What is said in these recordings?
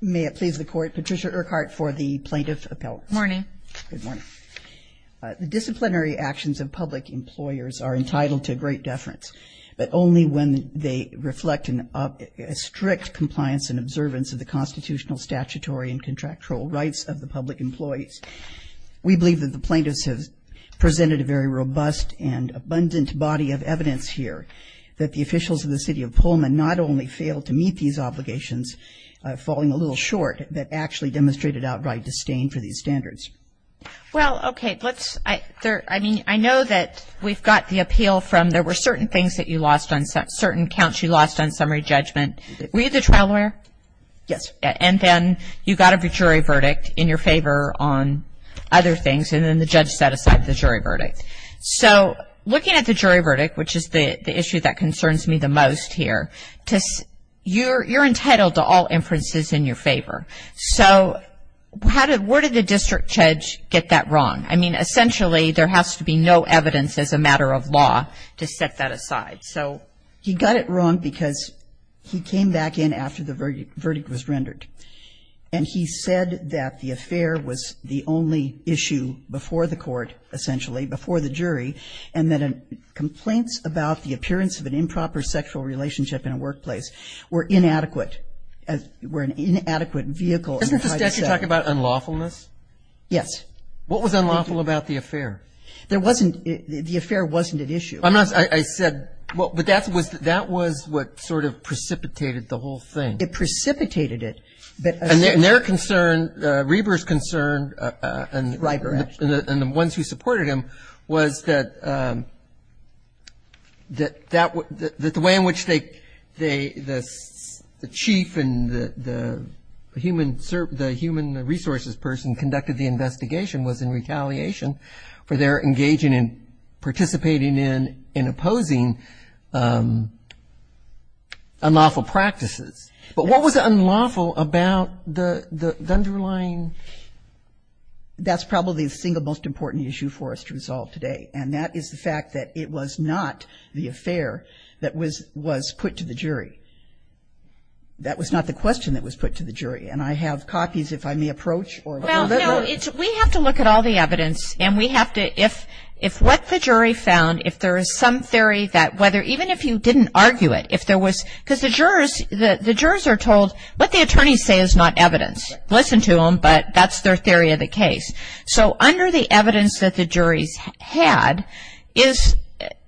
May it please the Court, Patricia Urquhart for the Plaintiff Appellate. Good morning. Good morning. The disciplinary actions of public employers are entitled to great deference, but only when they reflect a strict compliance and observance of the constitutional, statutory and contractual rights of the public employees. We believe that the plaintiffs have presented a very robust and abundant body of evidence here. That the officials of the City of Pullman not only failed to meet these obligations, falling a little short, but actually demonstrated outright disdain for these standards. Well, okay, let's, I mean, I know that we've got the appeal from, there were certain things that you lost on, certain counts you lost on summary judgment. Were you the trial lawyer? Yes. And then you got a jury verdict in your favor on other things, and then the judge set aside the jury verdict. So looking at the jury verdict, which is the issue that concerns me the most here, you're entitled to all inferences in your favor. So how did, where did the district judge get that wrong? I mean, essentially there has to be no evidence as a matter of law to set that aside. So he got it wrong because he came back in after the verdict was rendered. And he said that the affair was the only issue before the court, essentially, before the jury, and that complaints about the appearance of an improper sexual relationship in a workplace were inadequate, were an inadequate vehicle. Doesn't the statute talk about unlawfulness? Yes. What was unlawful about the affair? There wasn't, the affair wasn't at issue. I'm not, I said, but that was what sort of precipitated the whole thing. It precipitated it. And their concern, Reber's concern, and the ones who supported him, was that the way in which they, the chief and the human resources person conducted the investigation was in retaliation for their engaging in, participating in and opposing unlawful practices. But what was unlawful about the underlying? That's probably the single most important issue for us to resolve today, and that is the fact that it was not the affair that was put to the jury. That was not the question that was put to the jury. And I have copies, if I may approach. Well, no. We have to look at all the evidence, and we have to, if what the jury found, if there is some theory that whether, even if you didn't argue it, if there was, because the jurors are told what the attorneys say is not evidence. Listen to them, but that's their theory of the case. So under the evidence that the juries had is,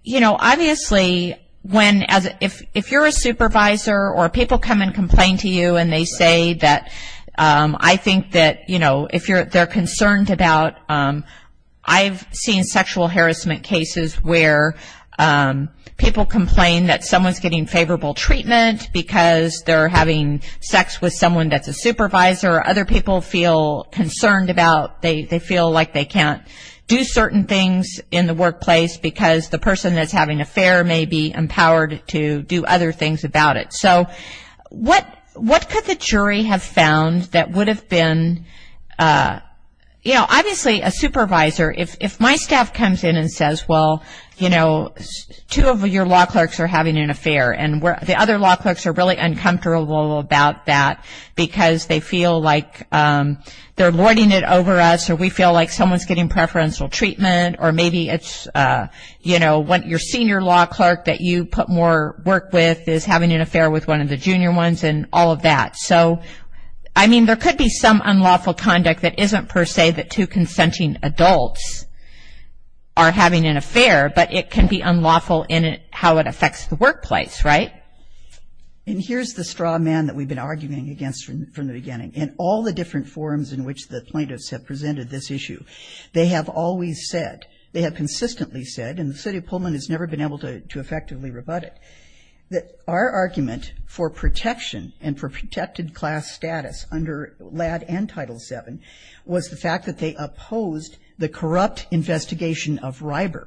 you know, obviously when, if you're a supervisor or people come and complain to you and they say that, I think that, you know, if they're concerned about, I've seen sexual harassment cases where people complain that someone's getting unfavorable treatment because they're having sex with someone that's a supervisor or other people feel concerned about, they feel like they can't do certain things in the workplace because the person that's having an affair may be empowered to do other things about it. So what could the jury have found that would have been, you know, obviously a supervisor, if my staff comes in and says, well, you know, two of your law clerks are having an affair and the other law clerks are really uncomfortable about that because they feel like they're lording it over us or we feel like someone's getting preferential treatment or maybe it's, you know, your senior law clerk that you put more work with is having an affair with one of the junior ones and all of that. So, I mean, there could be some unlawful conduct that isn't per se that two affects the workplace, right? And here's the straw man that we've been arguing against from the beginning. In all the different forums in which the plaintiffs have presented this issue, they have always said, they have consistently said, and the city of Pullman has never been able to effectively rebut it, that our argument for protection and for protected class status under LADD and Title VII was the fact that they opposed the corrupt investigation of Riber.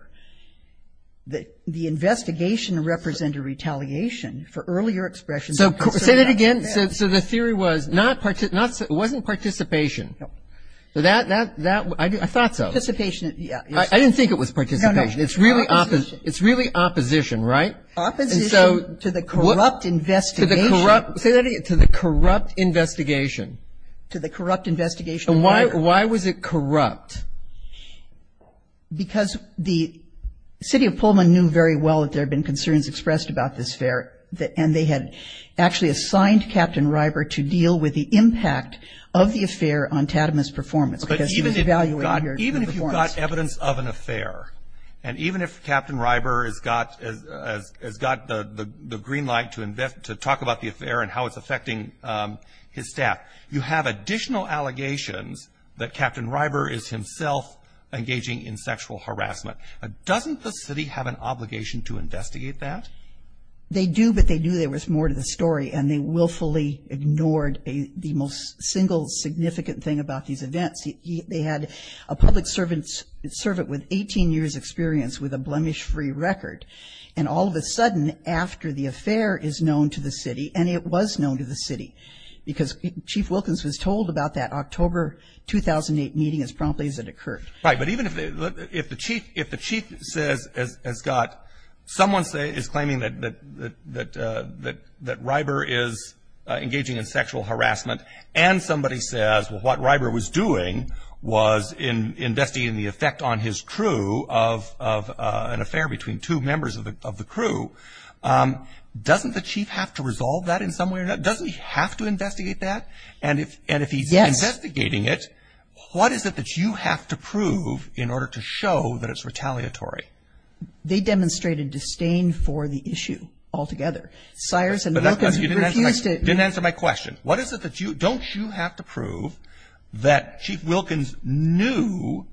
The investigation represented retaliation for earlier expressions of concern. So, say that again. So, the theory was not, it wasn't participation. No. That, I thought so. Participation, yeah. I didn't think it was participation. No, no. It's really opposition, right? Opposition to the corrupt investigation. Say that again. To the corrupt investigation. To the corrupt investigation of Riber. And why was it corrupt? Because the city of Pullman knew very well that there had been concerns expressed about this affair, and they had actually assigned Captain Riber to deal with the impact of the affair on Tatum's performance. But even if you've got evidence of an affair, and even if Captain Riber has got the green light to talk about the affair and how it's affecting his staff, you have additional allegations that Captain Riber is himself engaging in sexual harassment. Doesn't the city have an obligation to investigate that? They do, but they knew there was more to the story, and they willfully ignored the most single significant thing about these events. They had a public servant with 18 years' experience with a blemish-free record. And all of a sudden, after the affair is known to the city, and it was known to the city, because Chief Wilkins was told about that October 2008 meeting as promptly as it occurred. Right, but even if the chief says, has got someone is claiming that Riber is engaging in sexual harassment, and somebody says, well, doesn't the chief have to resolve that in some way? Doesn't he have to investigate that? And if he's investigating it, what is it that you have to prove in order to show that it's retaliatory? They demonstrated disdain for the issue altogether. Sires and Wilkins refused it. Didn't answer my question. What is it that you, don't you have to prove that Chief Wilkins knew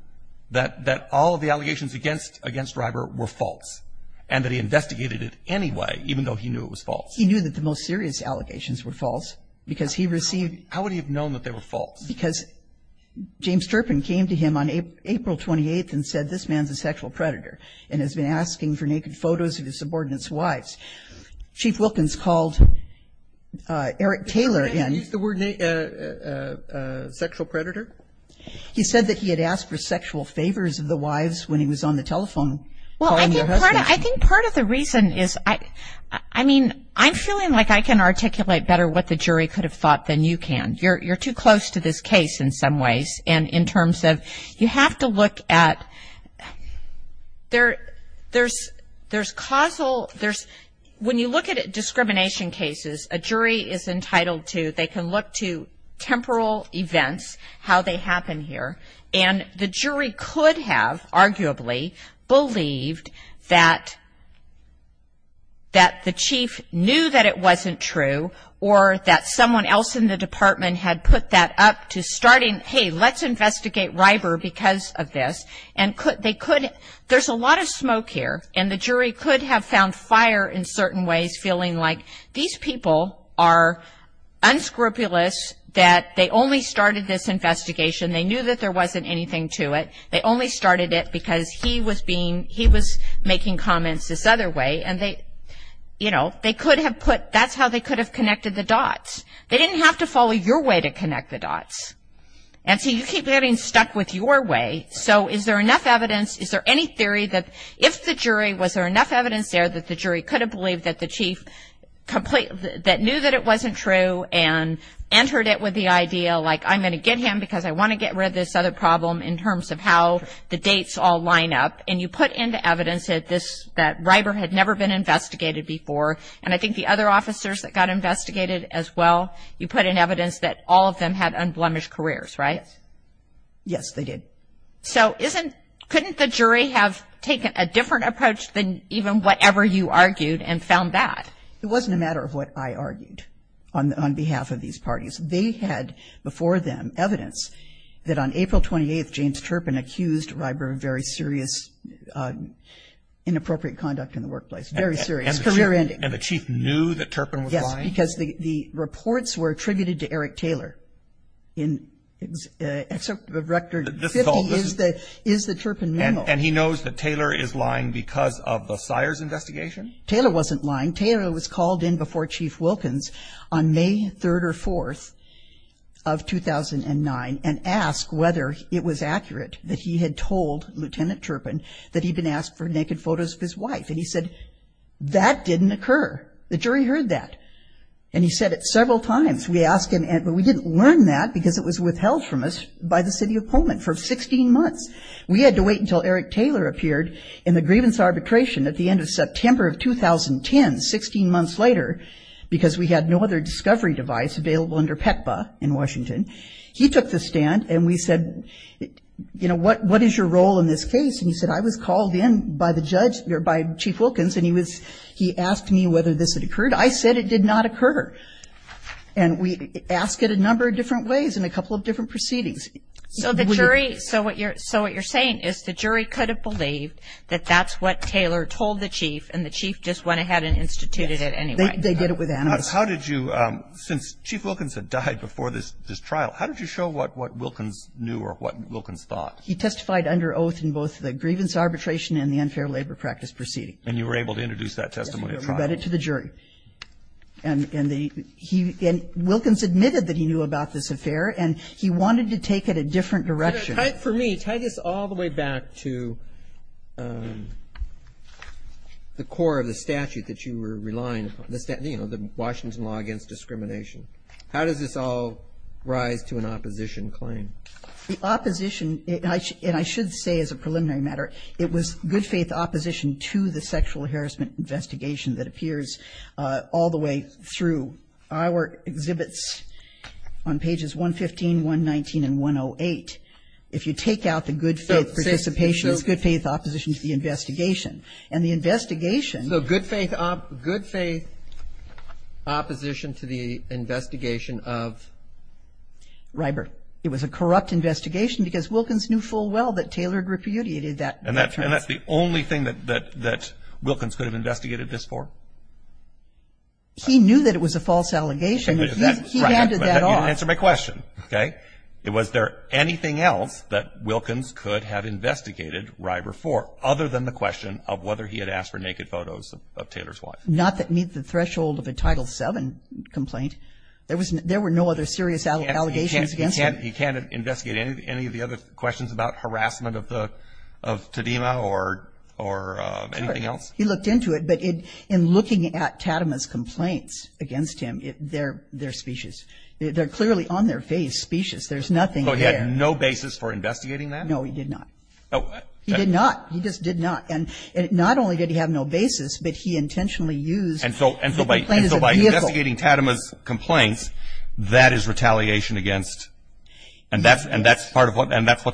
that all of the allegations against Riber were false and that he investigated it anyway, even though he knew it was false? He knew that the most serious allegations were false because he received. How would he have known that they were false? Because James Turpin came to him on April 28th and said, this man's a sexual predator and has been asking for naked photos of his subordinates' wives. Chief Wilkins called Eric Taylor in. Did he use the word sexual predator? He said that he had asked for sexual favors of the wives when he was on the telephone. Well, I think part of the reason is, I mean, I'm feeling like I can articulate better what the jury could have thought than you can. You're too close to this case in some ways. And in terms of, you have to look at, there's causal, when you look at discrimination cases, a jury is entitled to, they can look to temporal events, how they happen here. And the jury could have arguably believed that the chief knew that it wasn't true or that someone else in the department had put that up to starting, hey, let's investigate Riber because of this. And they could, there's a lot of smoke here. And the jury could have found fire in certain ways, feeling like these people are unscrupulous, that they only started this investigation. They knew that there wasn't anything to it. They only started it because he was being, he was making comments this other way. And they, you know, they could have put, that's how they could have connected the dots. They didn't have to follow your way to connect the dots. And so you keep getting stuck with your way. So is there enough evidence, is there any theory that if the jury, was there enough evidence there that the jury could have believed that the chief completely, that knew that it wasn't true and entered it with the idea, like I'm going to get him because I want to get rid of this other problem in terms of how the dates all line up. And you put into evidence that this, that Riber had never been investigated before. And I think the other officers that got investigated as well, you put in evidence that all of them had unblemished careers, right? Yes, they did. So isn't, couldn't the jury have taken a different approach than even whatever you argued and found that? It wasn't a matter of what I argued on behalf of these parties. They had before them evidence that on April 28th, James Turpin accused Riber of very serious, inappropriate conduct in the workplace. Very serious. And the chief knew that Turpin was lying? Yes, because the reports were attributed to Eric Taylor. Excerpt of Rector 50 is the Turpin memo. And he knows that Taylor is lying because of the Sires investigation? Taylor wasn't lying. Taylor was called in before Chief Wilkins on May 3rd or 4th of 2009 and asked whether it was accurate that he had told Lieutenant Turpin that he'd been asked for naked photos of his wife. And he said, that didn't occur. The jury heard that. And he said it several times. We asked him, but we didn't learn that because it was withheld from us by the city of Pullman for 16 months. We had to wait until Eric Taylor appeared in the grievance arbitration at the end of September of 2010, 16 months later, because we had no other discovery device available under PECBA in Washington. He took the stand and we said, you know, what is your role in this case? And he said, I was called in by the judge, or by Chief Wilkins, and he was, he asked me whether this had occurred. I said it did not occur. And we asked it a number of different ways in a couple of different proceedings. So the jury, so what you're saying is the jury could have believed that that's what Taylor told the Chief and the Chief just went ahead and instituted it anyway. Yes. They did it with animus. How did you, since Chief Wilkins had died before this trial, how did you show what Wilkins knew or what Wilkins thought? He testified under oath in both the grievance arbitration and the unfair labor practice proceeding. And you were able to introduce that testimony at trial? Yes. And the, he, and Wilkins admitted that he knew about this affair, and he wanted to take it a different direction. For me, tie this all the way back to the core of the statute that you were relying on, you know, the Washington Law Against Discrimination. How does this all rise to an opposition claim? The opposition, and I should say as a preliminary matter, it was good faith opposition to the sexual harassment investigation that appears all the way through our exhibits on pages 115, 119, and 108. If you take out the good faith participation, it's good faith opposition to the investigation. And the investigation. So good faith opposition to the investigation of? Rybert. It was a corrupt investigation because Wilkins knew full well that Taylor repudiated that trial. And that's the only thing that Wilkins could have investigated this for? He knew that it was a false allegation. He handed that off. You didn't answer my question, okay? Was there anything else that Wilkins could have investigated Rybert for other than the question of whether he had asked for naked photos of Taylor's wife? Not that meets the threshold of a Title VII complaint. There were no other serious allegations against him. He can't investigate any of the other questions about harassment of Tadima or anything else? He looked into it. But in looking at Tadima's complaints against him, they're specious. They're clearly on their face, specious. There's nothing there. So he had no basis for investigating that? No, he did not. He did not. He just did not. And not only did he have no basis, but he intentionally used the complaint as a vehicle. So investigating Tadima's complaints, that is retaliation against? Yes. And that's what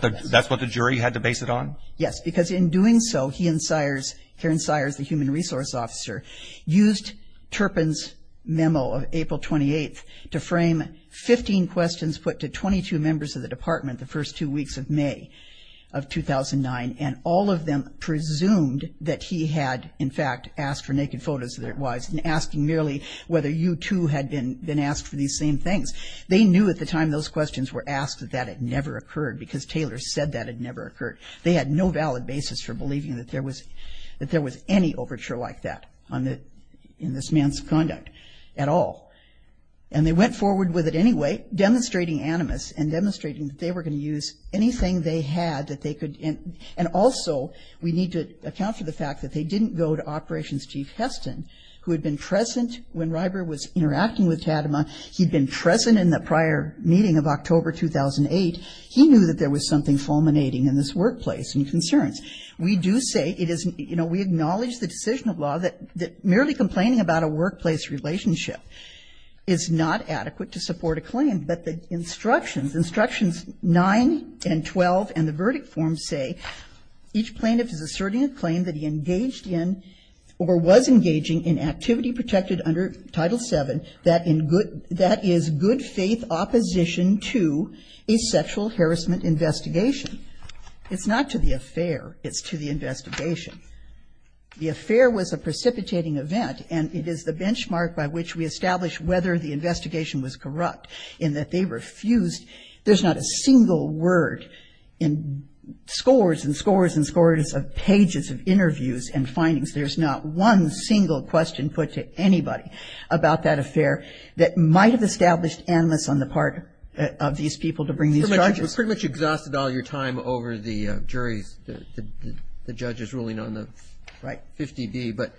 the jury had to base it on? Yes, because in doing so, he and Sires, Karen Sires, the human resource officer, used Turpin's memo of April 28th to frame 15 questions put to 22 members of the department the first two weeks of May of 2009, and all of them presumed that he had, in fact, asked for naked photos of their wives and asking merely whether you, too, had been asked for these same things. They knew at the time those questions were asked that that had never occurred, because Taylor said that had never occurred. They had no valid basis for believing that there was any overture like that in this man's conduct at all. And they went forward with it anyway, demonstrating animus and demonstrating that they were going to use anything they had that they could. And also, we need to account for the fact that they didn't go to Operations Chief Heston, who had been present when Ryber was interacting with Tadima. He'd been present in the prior meeting of October 2008. He knew that there was something fulminating in this workplace and concerns. We do say it is, you know, we acknowledge the decision of law that merely complaining about a workplace relationship is not adequate to support a claim, but the instructions, instructions 9 and 12 and the verdict form say each plaintiff is asserting a claim that he engaged in or was engaging in activity protected under Title VII that is good faith opposition to a sexual harassment investigation. It's not to the affair. It's to the investigation. The affair was a precipitating event, and it is the benchmark by which we establish whether the investigation was corrupt in that they refused. There's not a single word in scores and scores and scores of pages of interviews and findings. There's not one single question put to anybody about that affair that might have established animus on the part of these people to bring these judges. You pretty much exhausted all your time over the jury's, the judge's ruling on the 50B. Right. But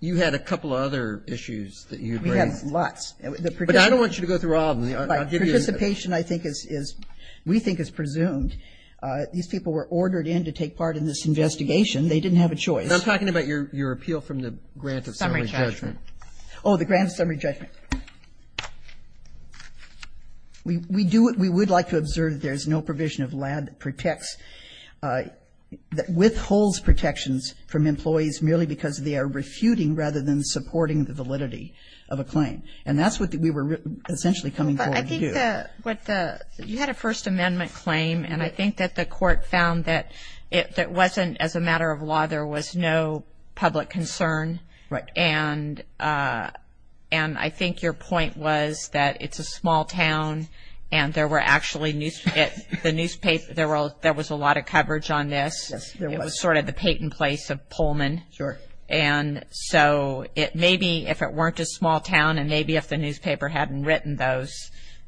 you had a couple other issues that you raised. We had lots. But I don't want you to go through all of them. Participation, I think, is we think is presumed. These people were ordered in to take part in this investigation. They didn't have a choice. I'm talking about your appeal from the grant of summary judgment. Oh, the grant of summary judgment. We do what we would like to observe. There's no provision of LAB that protects, withholds protections from employees merely because they are refuting rather than supporting the validity of a claim. And that's what we were essentially coming forward to do. You had a First Amendment claim, and I think that the court found that it wasn't as a matter of law. There was no public concern. Right. And I think your point was that it's a small town, and there were actually news, there was a lot of coverage on this. Yes, there was. That was sort of the Peyton place of Pullman. Sure. And so maybe if it weren't a small town and maybe if the newspaper hadn't written those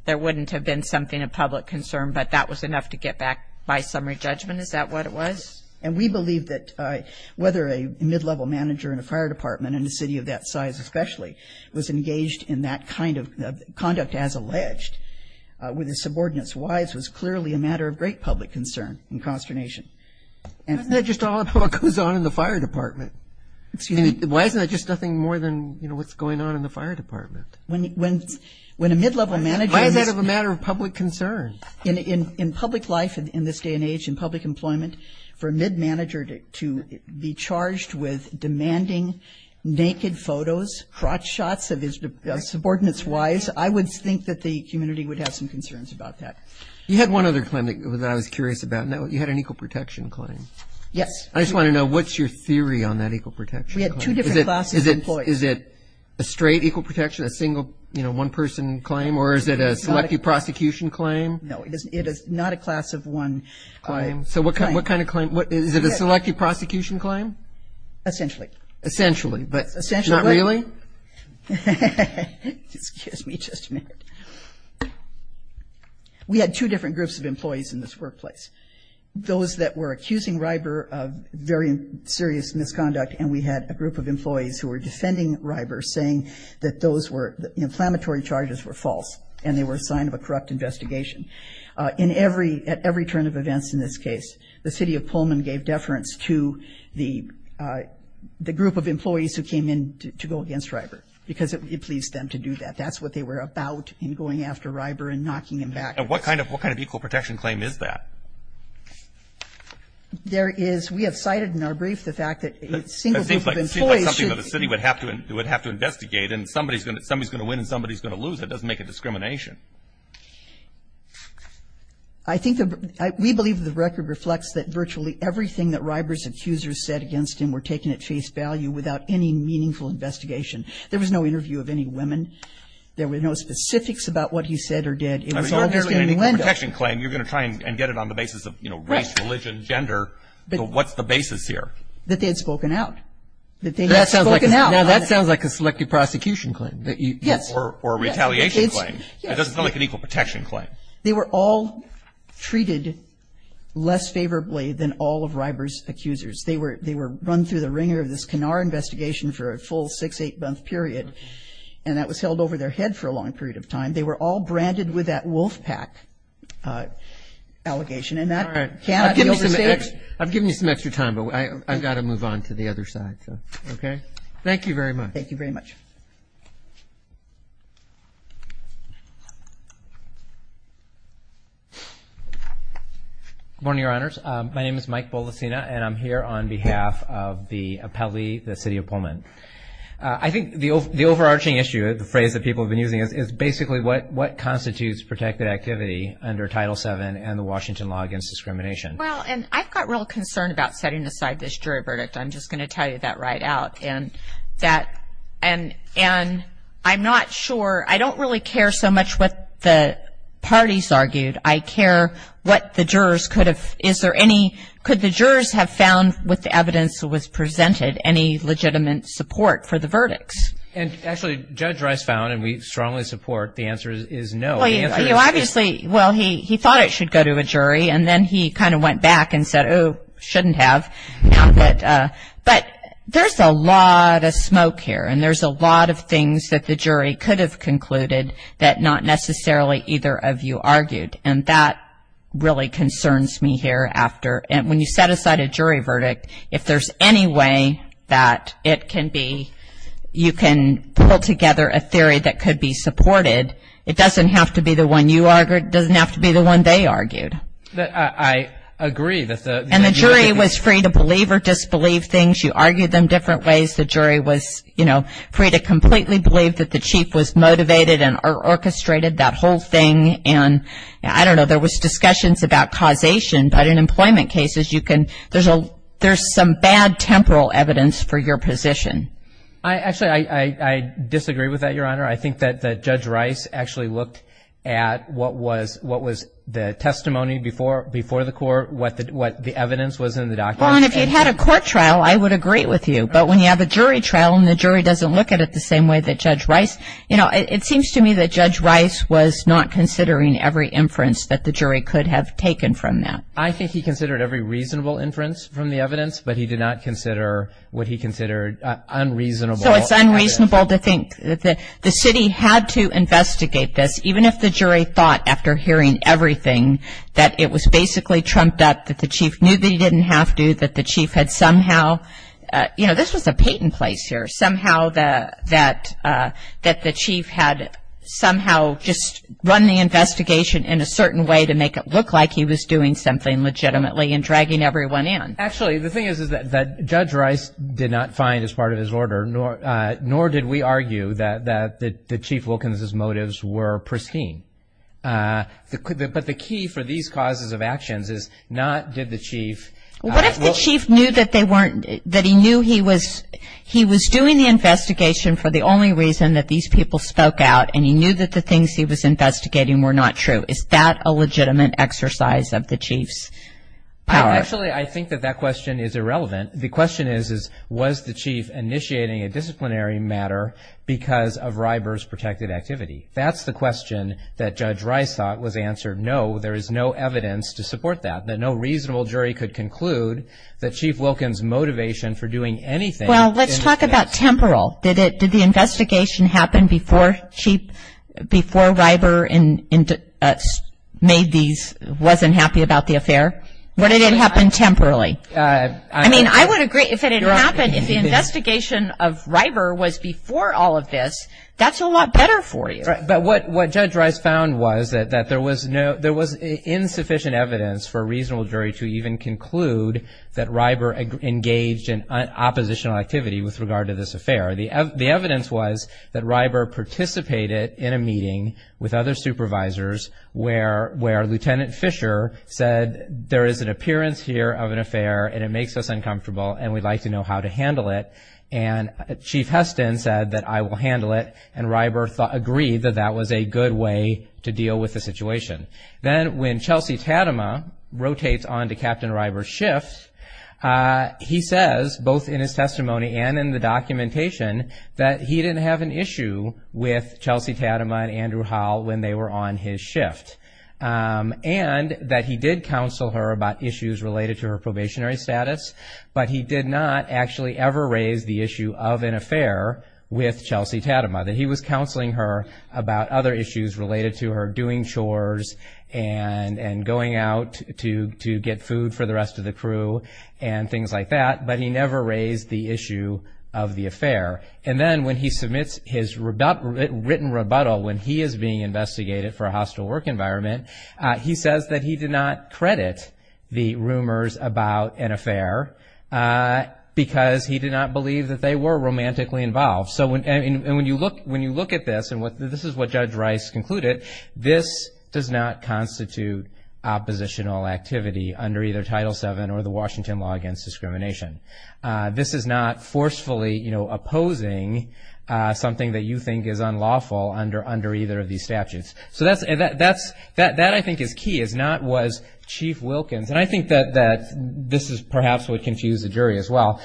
there wouldn't have been something of public concern, but that was enough to get back by summary judgment. Is that what it was? And we believe that whether a mid-level manager in a fire department in a city of that size especially was engaged in that kind of conduct as alleged with his subordinates' wives was clearly a matter of great public concern and consternation. Why isn't that just all that goes on in the fire department? Excuse me. Why isn't that just nothing more than, you know, what's going on in the fire department? When a mid-level manager is Why is that a matter of public concern? In public life in this day and age, in public employment, for a mid-manager to be charged with demanding naked photos, crotch shots of his subordinates' wives, I would think that the community would have some concerns about that. You had one other claim that I was curious about. You had an equal protection claim. Yes. I just want to know what's your theory on that equal protection claim? We had two different classes of employees. Is it a straight equal protection, a single, you know, one person claim, or is it a selective prosecution claim? No, it is not a class of one claim. So what kind of claim? Is it a selective prosecution claim? Essentially. Essentially, but not really? Excuse me just a minute. We had two different groups of employees in this workplace. Those that were accusing Reiber of very serious misconduct, and we had a group of employees who were defending Reiber, saying that the inflammatory charges were false and they were a sign of a corrupt investigation. At every turn of events in this case, the city of Pullman gave deference to the group of employees who came in to go against Reiber because it pleased them to do that. That's what they were about in going after Reiber and knocking him back. And what kind of equal protection claim is that? There is, we have cited in our brief the fact that a single group of employees should It seems like something that the city would have to investigate, and somebody's going to win and somebody's going to lose. That doesn't make it discrimination. We believe the record reflects that virtually everything that Reiber's accusers said against him were taken at face value without any meaningful investigation. There was no interview of any women. There were no specifics about what he said or did. It was all just in the window. You're going to try and get it on the basis of race, religion, gender. What's the basis here? That they had spoken out. That sounds like a selective prosecution claim. Yes. Or a retaliation claim. It doesn't sound like an equal protection claim. They were all treated less favorably than all of Reiber's accusers. They were run through the ringer of this Kenaur investigation for a full six, eight-month period, and that was held over their head for a long period of time. They were all branded with that wolf pack allegation, and that cannot be overstated. I've given you some extra time, but I've got to move on to the other side. Okay. Thank you very much. Thank you very much. Good morning, Your Honors. My name is Mike Bolasina, and I'm here on behalf of the appellee, the city of Pullman. I think the overarching issue, the phrase that people have been using, is basically what constitutes protected activity under Title VII and the Washington Law Against Discrimination. Well, and I've got real concern about setting aside this jury verdict. I'm just going to tell you that right out, and I'm not sure. I don't really care so much what the parties argued. I care what the jurors could have, is there any, could the jurors have found with the evidence that was presented any legitimate support for the verdicts? And actually, Judge Rice found, and we strongly support, the answer is no. Well, you obviously, well, he thought it should go to a jury, and then he kind of went back and said, oh, shouldn't have. But there's a lot of smoke here, and there's a lot of things that the jury could have concluded that not necessarily either of you argued. And that really concerns me here after. And when you set aside a jury verdict, if there's any way that it can be, you can pull together a theory that could be supported, it doesn't have to be the one you argued, it doesn't have to be the one they argued. I agree. And the jury was free to believe or disbelieve things. You argued them different ways. The jury was, you know, free to completely believe that the chief was motivated and orchestrated that whole thing. And I don't know, there was discussions about causation, but in employment cases you can, there's some bad temporal evidence for your position. Actually, I disagree with that, Your Honor. I think that Judge Rice actually looked at what was the testimony before the court, what the evidence was in the documents. Well, and if you had a court trial, I would agree with you. But when you have a jury trial and the jury doesn't look at it the same way that Judge Rice, you know, it seems to me that Judge Rice was not considering every inference that the jury could have taken from that. I think he considered every reasonable inference from the evidence, but he did not consider what he considered unreasonable. So it's unreasonable to think that the city had to investigate this, even if the jury thought after hearing everything that it was basically trumped up, that the chief knew that he didn't have to, that the chief had somehow, you know, this was a patent place here, but somehow that the chief had somehow just run the investigation in a certain way to make it look like he was doing something legitimately and dragging everyone in. Actually, the thing is that Judge Rice did not find as part of his order, nor did we argue that Chief Wilkins' motives were pristine. But the key for these causes of actions is not did the chief. What if the chief knew that they weren't, that he knew he was doing the investigation for the only reason that these people spoke out and he knew that the things he was investigating were not true? Is that a legitimate exercise of the chief's power? Actually, I think that that question is irrelevant. The question is, was the chief initiating a disciplinary matter because of Riber's protected activity? That's the question that Judge Rice thought was answered no, there is no evidence to support that, that no reasonable jury could conclude that Chief Wilkins' motivation for doing anything. Well, let's talk about temporal. Did the investigation happen before Riber made these, wasn't happy about the affair? Or did it happen temporally? I mean, I would agree if it had happened, if the investigation of Riber was before all of this, that's a lot better for you. But what Judge Rice found was that there was insufficient evidence for a reasonable jury to even conclude that Riber engaged in oppositional activity with regard to this affair. The evidence was that Riber participated in a meeting with other supervisors where Lieutenant Fisher said there is an appearance here of an affair and it makes us uncomfortable and we'd like to know how to handle it. And Chief Heston said that I will handle it and Riber agreed that that was a good way to deal with the situation. Then when Chelsea Tatema rotates on to Captain Riber's shift, he says both in his testimony and in the documentation that he didn't have an issue with Chelsea Tatema and Andrew Howell when they were on his shift and that he did counsel her about issues related to her probationary status, but he did not actually ever raise the issue of an affair with Chelsea Tatema, that he was counseling her about other issues related to her doing chores and going out to get food for the rest of the crew and things like that, but he never raised the issue of the affair. And then when he submits his written rebuttal when he is being investigated for a hostile work environment, he says that he did not credit the rumors about an affair because he did not believe that they were romantically involved. And when you look at this, and this is what Judge Rice concluded, this does not constitute oppositional activity under either Title VII or the Washington Law Against Discrimination. This is not forcefully opposing something that you think is unlawful under either of these statutes. So that, I think, is key, is not was Chief Wilkins, and I think that this is perhaps what confused the jury as well.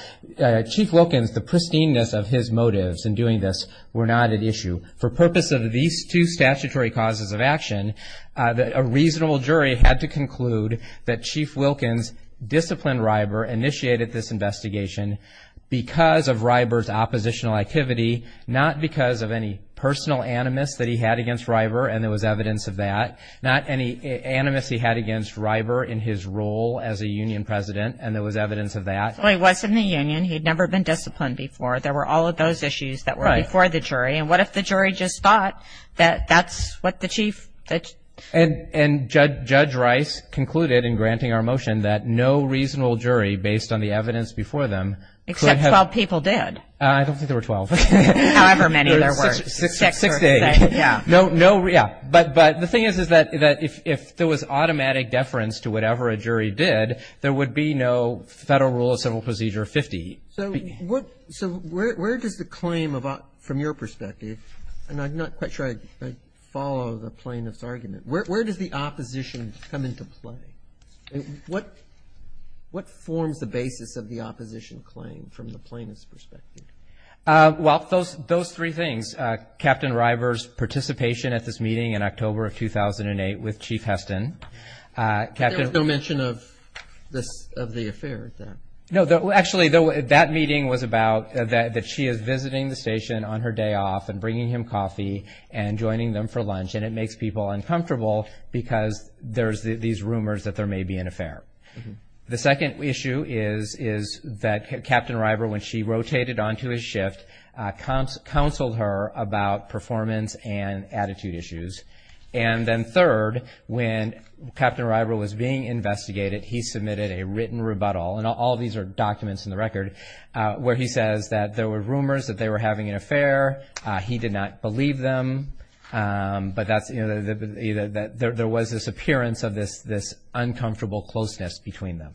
Chief Wilkins, the pristineness of his motives in doing this were not at issue. For purpose of these two statutory causes of action, a reasonable jury had to conclude that Chief Wilkins disciplined Ryber, initiated this investigation because of Ryber's oppositional activity, not because of any personal animus that he had against Ryber, and there was evidence of that, not any animus he had against Ryber in his role as a union president, and there was evidence of that. Well, he was in the union. He had never been disciplined before. There were all of those issues that were before the jury. And what if the jury just thought that that's what the chief – And Judge Rice concluded in granting our motion that no reasonable jury, based on the evidence before them – Except 12 people did. I don't think there were 12. However many there were. Six days. Yeah. But the thing is, is that if there was automatic deference to whatever a jury did, there would be no Federal Rule of Civil Procedure 50. So where does the claim, from your perspective, and I'm not quite sure I follow the plaintiff's argument, where does the opposition come into play? What forms the basis of the opposition claim from the plaintiff's perspective? Well, those three things. Captain Ryber's participation at this meeting in October of 2008 with Chief Heston. There was no mention of the affair at that. No. Actually, that meeting was about that she is visiting the station on her day off and bringing him coffee and joining them for lunch, and it makes people uncomfortable because there's these rumors that there may be an affair. The second issue is that Captain Ryber, when she rotated onto his shift, counseled her about performance and attitude issues. And then third, when Captain Ryber was being investigated, he submitted a written rebuttal, and all these are documents in the record, where he says that there were rumors that they were having an affair. He did not believe them, but there was this appearance of this uncomfortable closeness between them.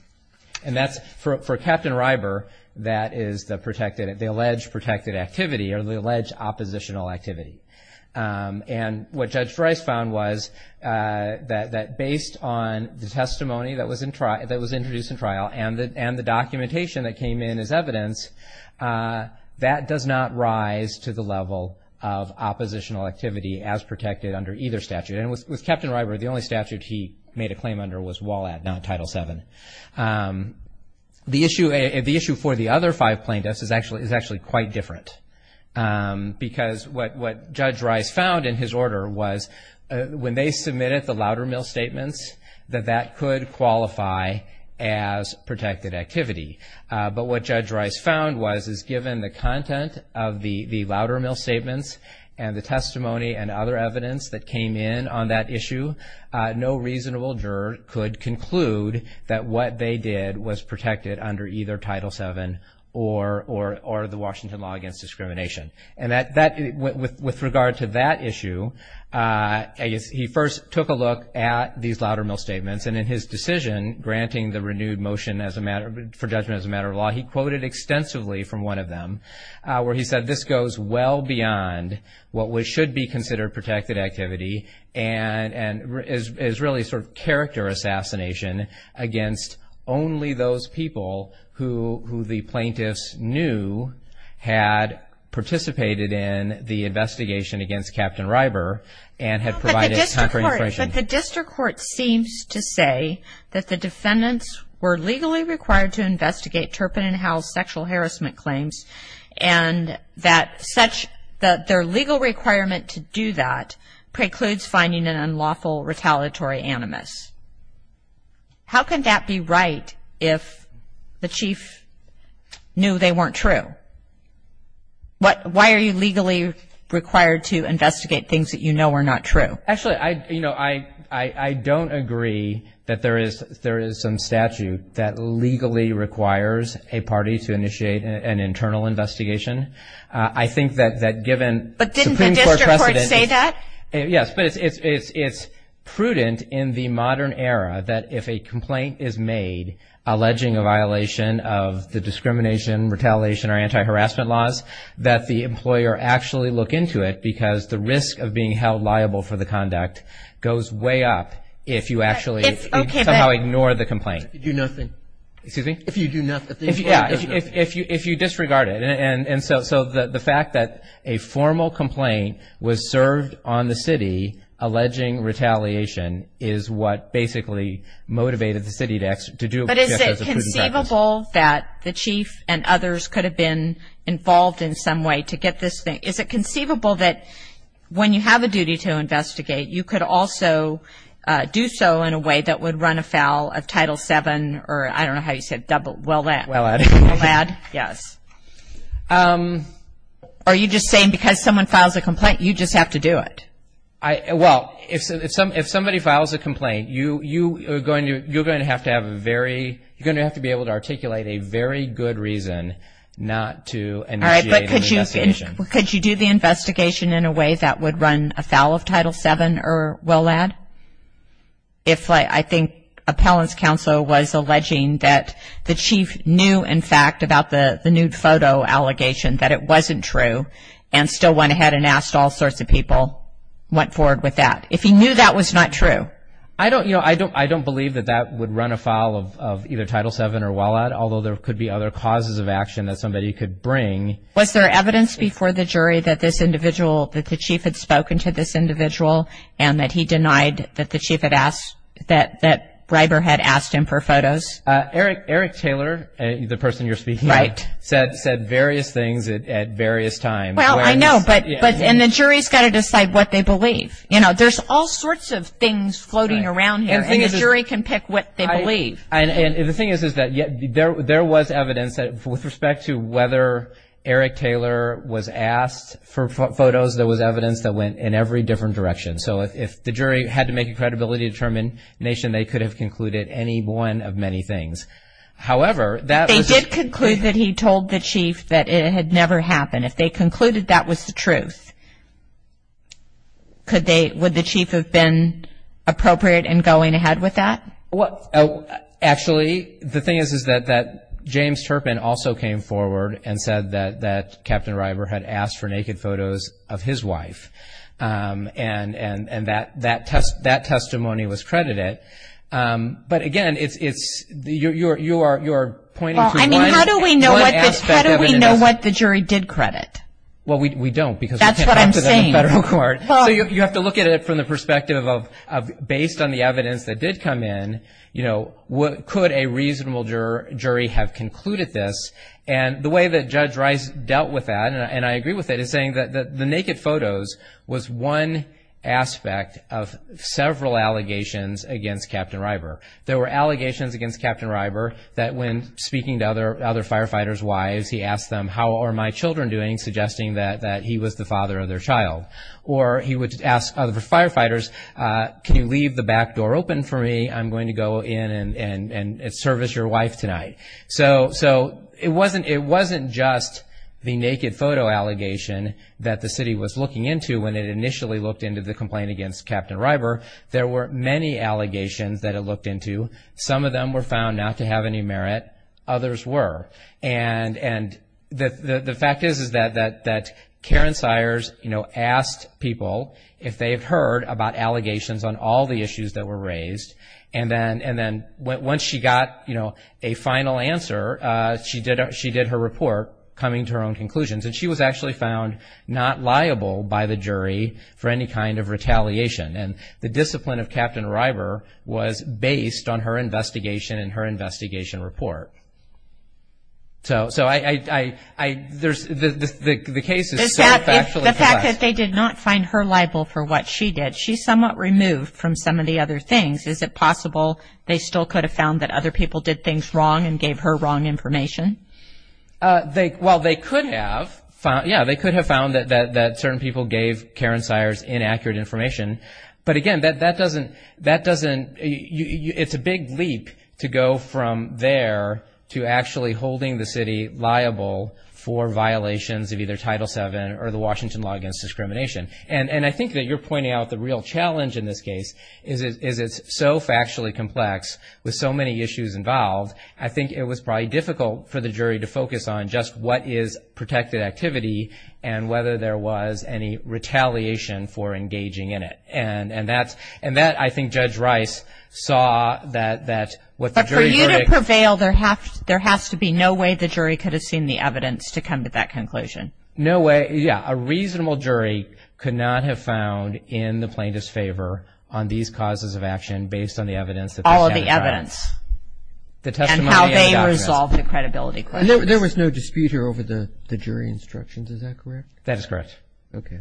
And that's, for Captain Ryber, that is the alleged protected activity or the alleged oppositional activity. And what Judge Rice found was that based on the testimony that was introduced in trial and the documentation that came in as evidence, that does not rise to the level of oppositional activity as protected under either statute. And with Captain Ryber, the only statute he made a claim under was WALAD, not Title VII. The issue for the other five plaintiffs is actually quite different because what Judge Rice found in his order was, when they submitted the Loudermill Statements, that that could qualify as protected activity. But what Judge Rice found was, is given the content of the Loudermill Statements and the testimony and other evidence that came in on that issue, no reasonable juror could conclude that what they did was protected under either Title VII or the Washington Law Against Discrimination. And with regard to that issue, he first took a look at these Loudermill Statements. And in his decision granting the renewed motion for judgment as a matter of law, he quoted extensively from one of them where he said, this goes well beyond what should be considered protected activity and is really sort of character assassination against only those people who the plaintiffs knew had participated in the investigation against Captain Ryber and had provided time for information. But the district court seems to say that the defendants were legally required to investigate Turpin and Howell's sexual harassment claims and that their legal requirement to do that precludes finding an unlawful retaliatory animus. How can that be right if the chief knew they weren't true? Why are you legally required to investigate things that you know are not true? Actually, you know, I don't agree that there is some statute that legally requires a party to initiate an internal investigation. I think that given supreme court precedent. But didn't the district court say that? Yes, but it's prudent in the modern era that if a complaint is made alleging a violation of the discrimination, retaliation, or anti-harassment laws, that the employer actually look into it because the risk of being held liable for the conduct goes way up if you actually somehow ignore the complaint. If you do nothing. Excuse me? If you do nothing. Yeah, if you disregard it. And so the fact that a formal complaint was served on the city alleging retaliation is what basically motivated the city to do it. But is it conceivable that the chief and others could have been involved in some way to get this thing? Is it conceivable that when you have a duty to investigate, you could also do so in a way that would run afoul of Title VII or I don't know how you say it, but WELL-AD. WELL-AD. WELL-AD, yes. Are you just saying because someone files a complaint, you just have to do it? Well, if somebody files a complaint, you're going to have to be able to articulate a very good reason not to initiate an investigation. All right, but could you do the investigation in a way that would run afoul of Title VII or WELL-AD? If I think appellant's counsel was alleging that the chief knew, in fact, about the nude photo allegation that it wasn't true and still went ahead and asked all sorts of people, went forward with that. If he knew that was not true. I don't believe that that would run afoul of either Title VII or WELL-AD, although there could be other causes of action that somebody could bring. Was there evidence before the jury that this individual, that the chief had spoken to this individual and that he denied that the chief had asked, that Breiber had asked him for photos? Eric Taylor, the person you're speaking of, said various things at various times. Well, I know, but the jury's got to decide what they believe. You know, there's all sorts of things floating around here, and the jury can pick what they believe. And the thing is, is that there was evidence that, with respect to whether Eric Taylor was asked for photos, there was evidence that went in every different direction. So if the jury had to make a credibility determination, they could have concluded any one of many things. However, that was just- They did conclude that he told the chief that it had never happened. If they concluded that was the truth, would the chief have been appropriate in going ahead with that? Well, actually, the thing is, is that James Turpin also came forward and said that Captain Breiber had asked for naked photos of his wife, and that testimony was credited. But, again, you are pointing to one aspect of it. Well, I mean, how do we know what the jury did credit? Well, we don't because we can't talk to them in federal court. That's what I'm saying. So you have to look at it from the perspective of, based on the evidence that did come in, could a reasonable jury have concluded this? And the way that Judge Rice dealt with that, and I agree with it, is saying that the naked photos was one aspect of several allegations against Captain Breiber. There were allegations against Captain Breiber that, when speaking to other firefighters' wives, he asked them, how are my children doing, suggesting that he was the father of their child. Or he would ask other firefighters, can you leave the back door open for me? I'm going to go in and service your wife tonight. So it wasn't just the naked photo allegation that the city was looking into when it initially looked into the complaint against Captain Breiber. There were many allegations that it looked into. Some of them were found not to have any merit. Others were. And the fact is that Karen Sires asked people if they had heard about allegations on all the issues that were raised, and then once she got a final answer, she did her report coming to her own conclusions. And she was actually found not liable by the jury for any kind of retaliation. And the discipline of Captain Breiber was based on her investigation and her investigation report. So the case is so factually complex. The fact that they did not find her liable for what she did, she's somewhat removed from some of the other things. Is it possible they still could have found that other people did things wrong and gave her wrong information? Well, they could have. Yeah, they could have found that certain people gave Karen Sires inaccurate information. But, again, that doesn't – it's a big leap to go from there to actually holding the city liable for violations of either Title VII or the Washington law against discrimination. And I think that you're pointing out the real challenge in this case is it's so factually complex with so many issues involved, I think it was probably difficult for the jury to focus on just what is protected activity and whether there was any retaliation for engaging in it. And that, I think, Judge Rice saw that what the jury verdict – But for you to prevail, there has to be no way the jury could have seen the evidence to come to that conclusion. No way, yeah. A reasonable jury could not have found in the plaintiff's favor on these causes of action based on the evidence that they – All of the evidence. The testimony and the documents. And how they resolved the credibility questions. And there was no dispute here over the jury instructions. Is that correct? That is correct. Okay.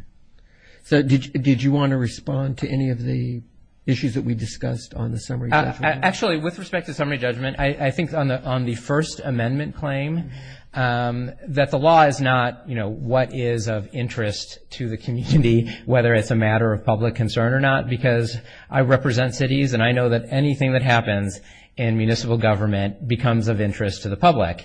So did you want to respond to any of the issues that we discussed on the summary judgment? Actually, with respect to summary judgment, I think on the First Amendment claim, that the law is not what is of interest to the community, whether it's a matter of public concern or not, because I represent cities and I know that anything that happens in municipal government becomes of interest to the public.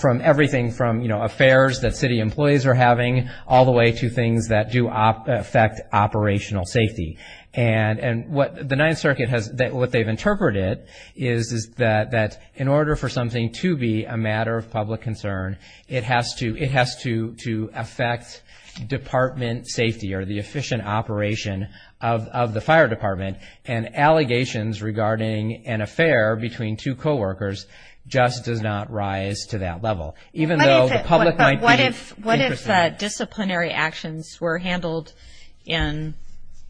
From everything from affairs that city employees are having all the way to things that do affect operational safety. And what the Ninth Circuit has – what they've interpreted is that in order for something to be a matter of public concern, it has to affect department safety or the efficient operation of the fire department. And allegations regarding an affair between two coworkers just does not rise to that level, even though the public might be interested. But what if disciplinary actions were handled in,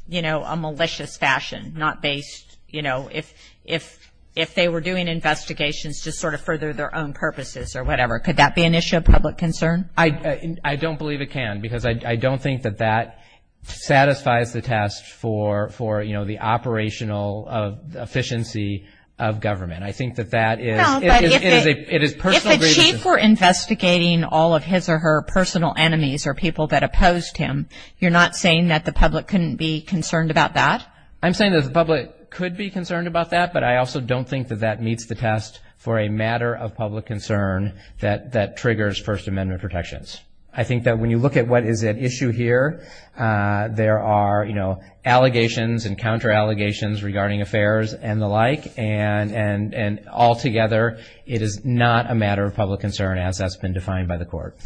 you know, a malicious fashion, not based, you know, if they were doing investigations to sort of further their own purposes or whatever? Could that be an issue of public concern? I don't believe it can, because I don't think that that satisfies the test for, you know, the operational efficiency of government. I think that that is – No, but if a chief were investigating all of his or her personal enemies or people that opposed him, you're not saying that the public couldn't be concerned about that? I'm saying that the public could be concerned about that, but I also don't think that that meets the test for a matter of public concern that triggers First Amendment protections. I think that when you look at what is at issue here, there are, you know, allegations and counter-allegations regarding affairs and the like, and altogether it is not a matter of public concern as that's been defined by the court.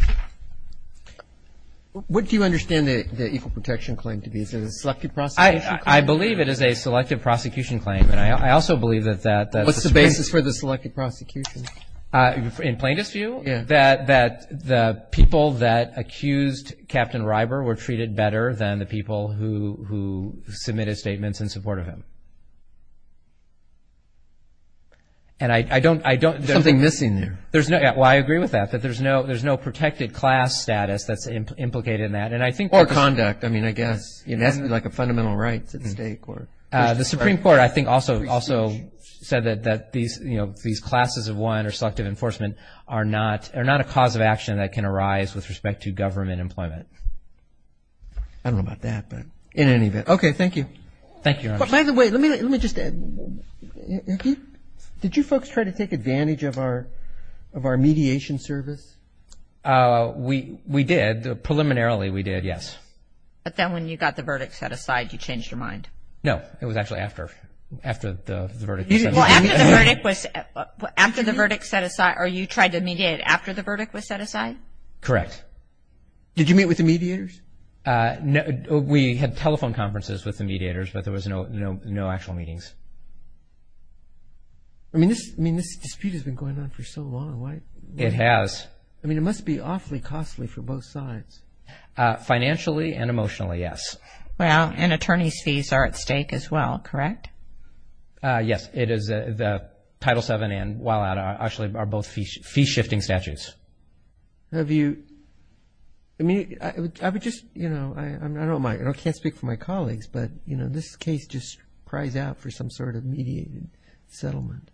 What do you understand the Equal Protection Claim to be? Is it a selective prosecution claim? I believe it is a selective prosecution claim, and I also believe that that's – What's the basis for the selective prosecution? In plainest view, that the people that accused Captain Ryber were treated better than the people who submitted statements in support of him. And I don't – There's something missing there. Well, I agree with that, that there's no protected class status that's implicated in that, and I think – Or conduct, I mean, I guess. That's like a fundamental right to the state court. The Supreme Court, I think, also said that these, you know, these classes of one or selective enforcement are not a cause of action that can arise with respect to government employment. I don't know about that, but in any event. Okay, thank you. Thank you, Your Honor. By the way, let me just add. Did you folks try to take advantage of our mediation service? We did. Preliminarily, we did, yes. But then when you got the verdict set aside, you changed your mind? No, it was actually after the verdict was set aside. Well, after the verdict was – after the verdict set aside, or you tried to mediate after the verdict was set aside? Correct. Did you meet with the mediators? We had telephone conferences with the mediators, but there was no actual meetings. I mean, this dispute has been going on for so long. It has. I mean, it must be awfully costly for both sides. Financially and emotionally, yes. Well, and attorney's fees are at stake as well, correct? Yes. The Title VII and Wile Out actually are both fee-shifting statutes. Have you – I mean, I would just – I don't mind. I can't speak for my colleagues, but, you know, this case just cries out for some sort of mediated settlement. It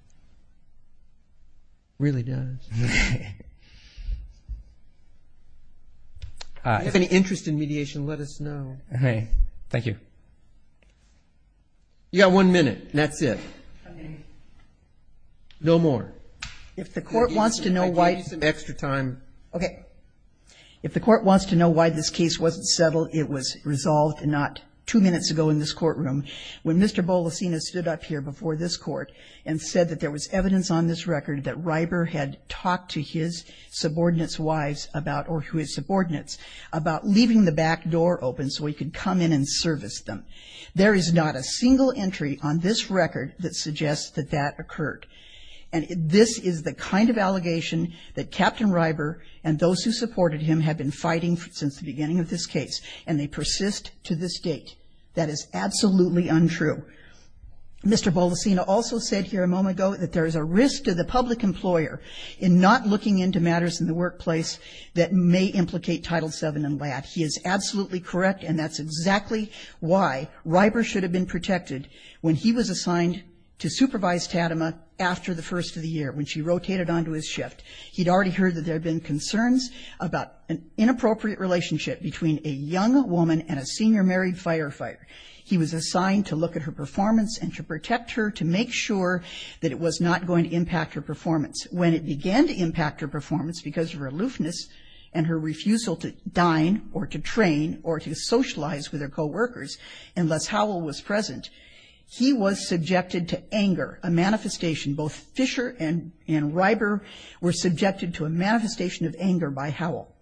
really does. If you have any interest in mediation, let us know. Okay. Thank you. You've got one minute, and that's it. No more. If the Court wants to know why – I gave you some extra time. Okay. If the Court wants to know why this case wasn't settled, it was resolved not two minutes ago in this courtroom when Mr. Bolasina stood up here before this Court and said that there was evidence on this record that Ryber had talked to his subordinates' wives about – or his subordinates – about leaving the back door open so he could come in and service them. There is not a single entry on this record that suggests that that occurred. And this is the kind of allegation that Captain Ryber and those who supported him have been fighting since the beginning of this case, and they persist to this date. That is absolutely untrue. Mr. Bolasina also said here a moment ago that there is a risk to the public employer in not looking into matters in the workplace that may implicate Title VII in LAT. He is absolutely correct, and that's exactly why Ryber should have been protected when he was assigned to supervise Tatema after the first of the year, when she rotated onto his shift. He'd already heard that there had been concerns about an inappropriate relationship between a young woman and a senior married firefighter. He was assigned to look at her performance and to protect her to make sure that it was not going to impact her performance. When it began to impact her performance because of her aloofness and her refusal to dine or to train or to socialize with her coworkers unless Howell was present, he was subjected to anger, a manifestation. Both Fisher and Ryber were subjected to a manifestation of anger by Howell.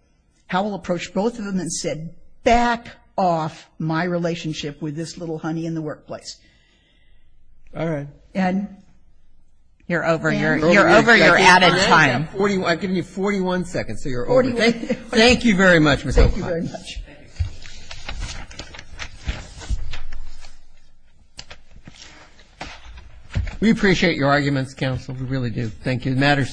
Howell approached both of them and said, back off my relationship with this little honey in the workplace. All right. And you're over. You're over your added time. I'm giving you 41 seconds, so you're over. Thank you very much, Ms. O'Connor. Thank you very much. Thank you. We appreciate your arguments, counsel. We really do. Thank you. The matter is submitted.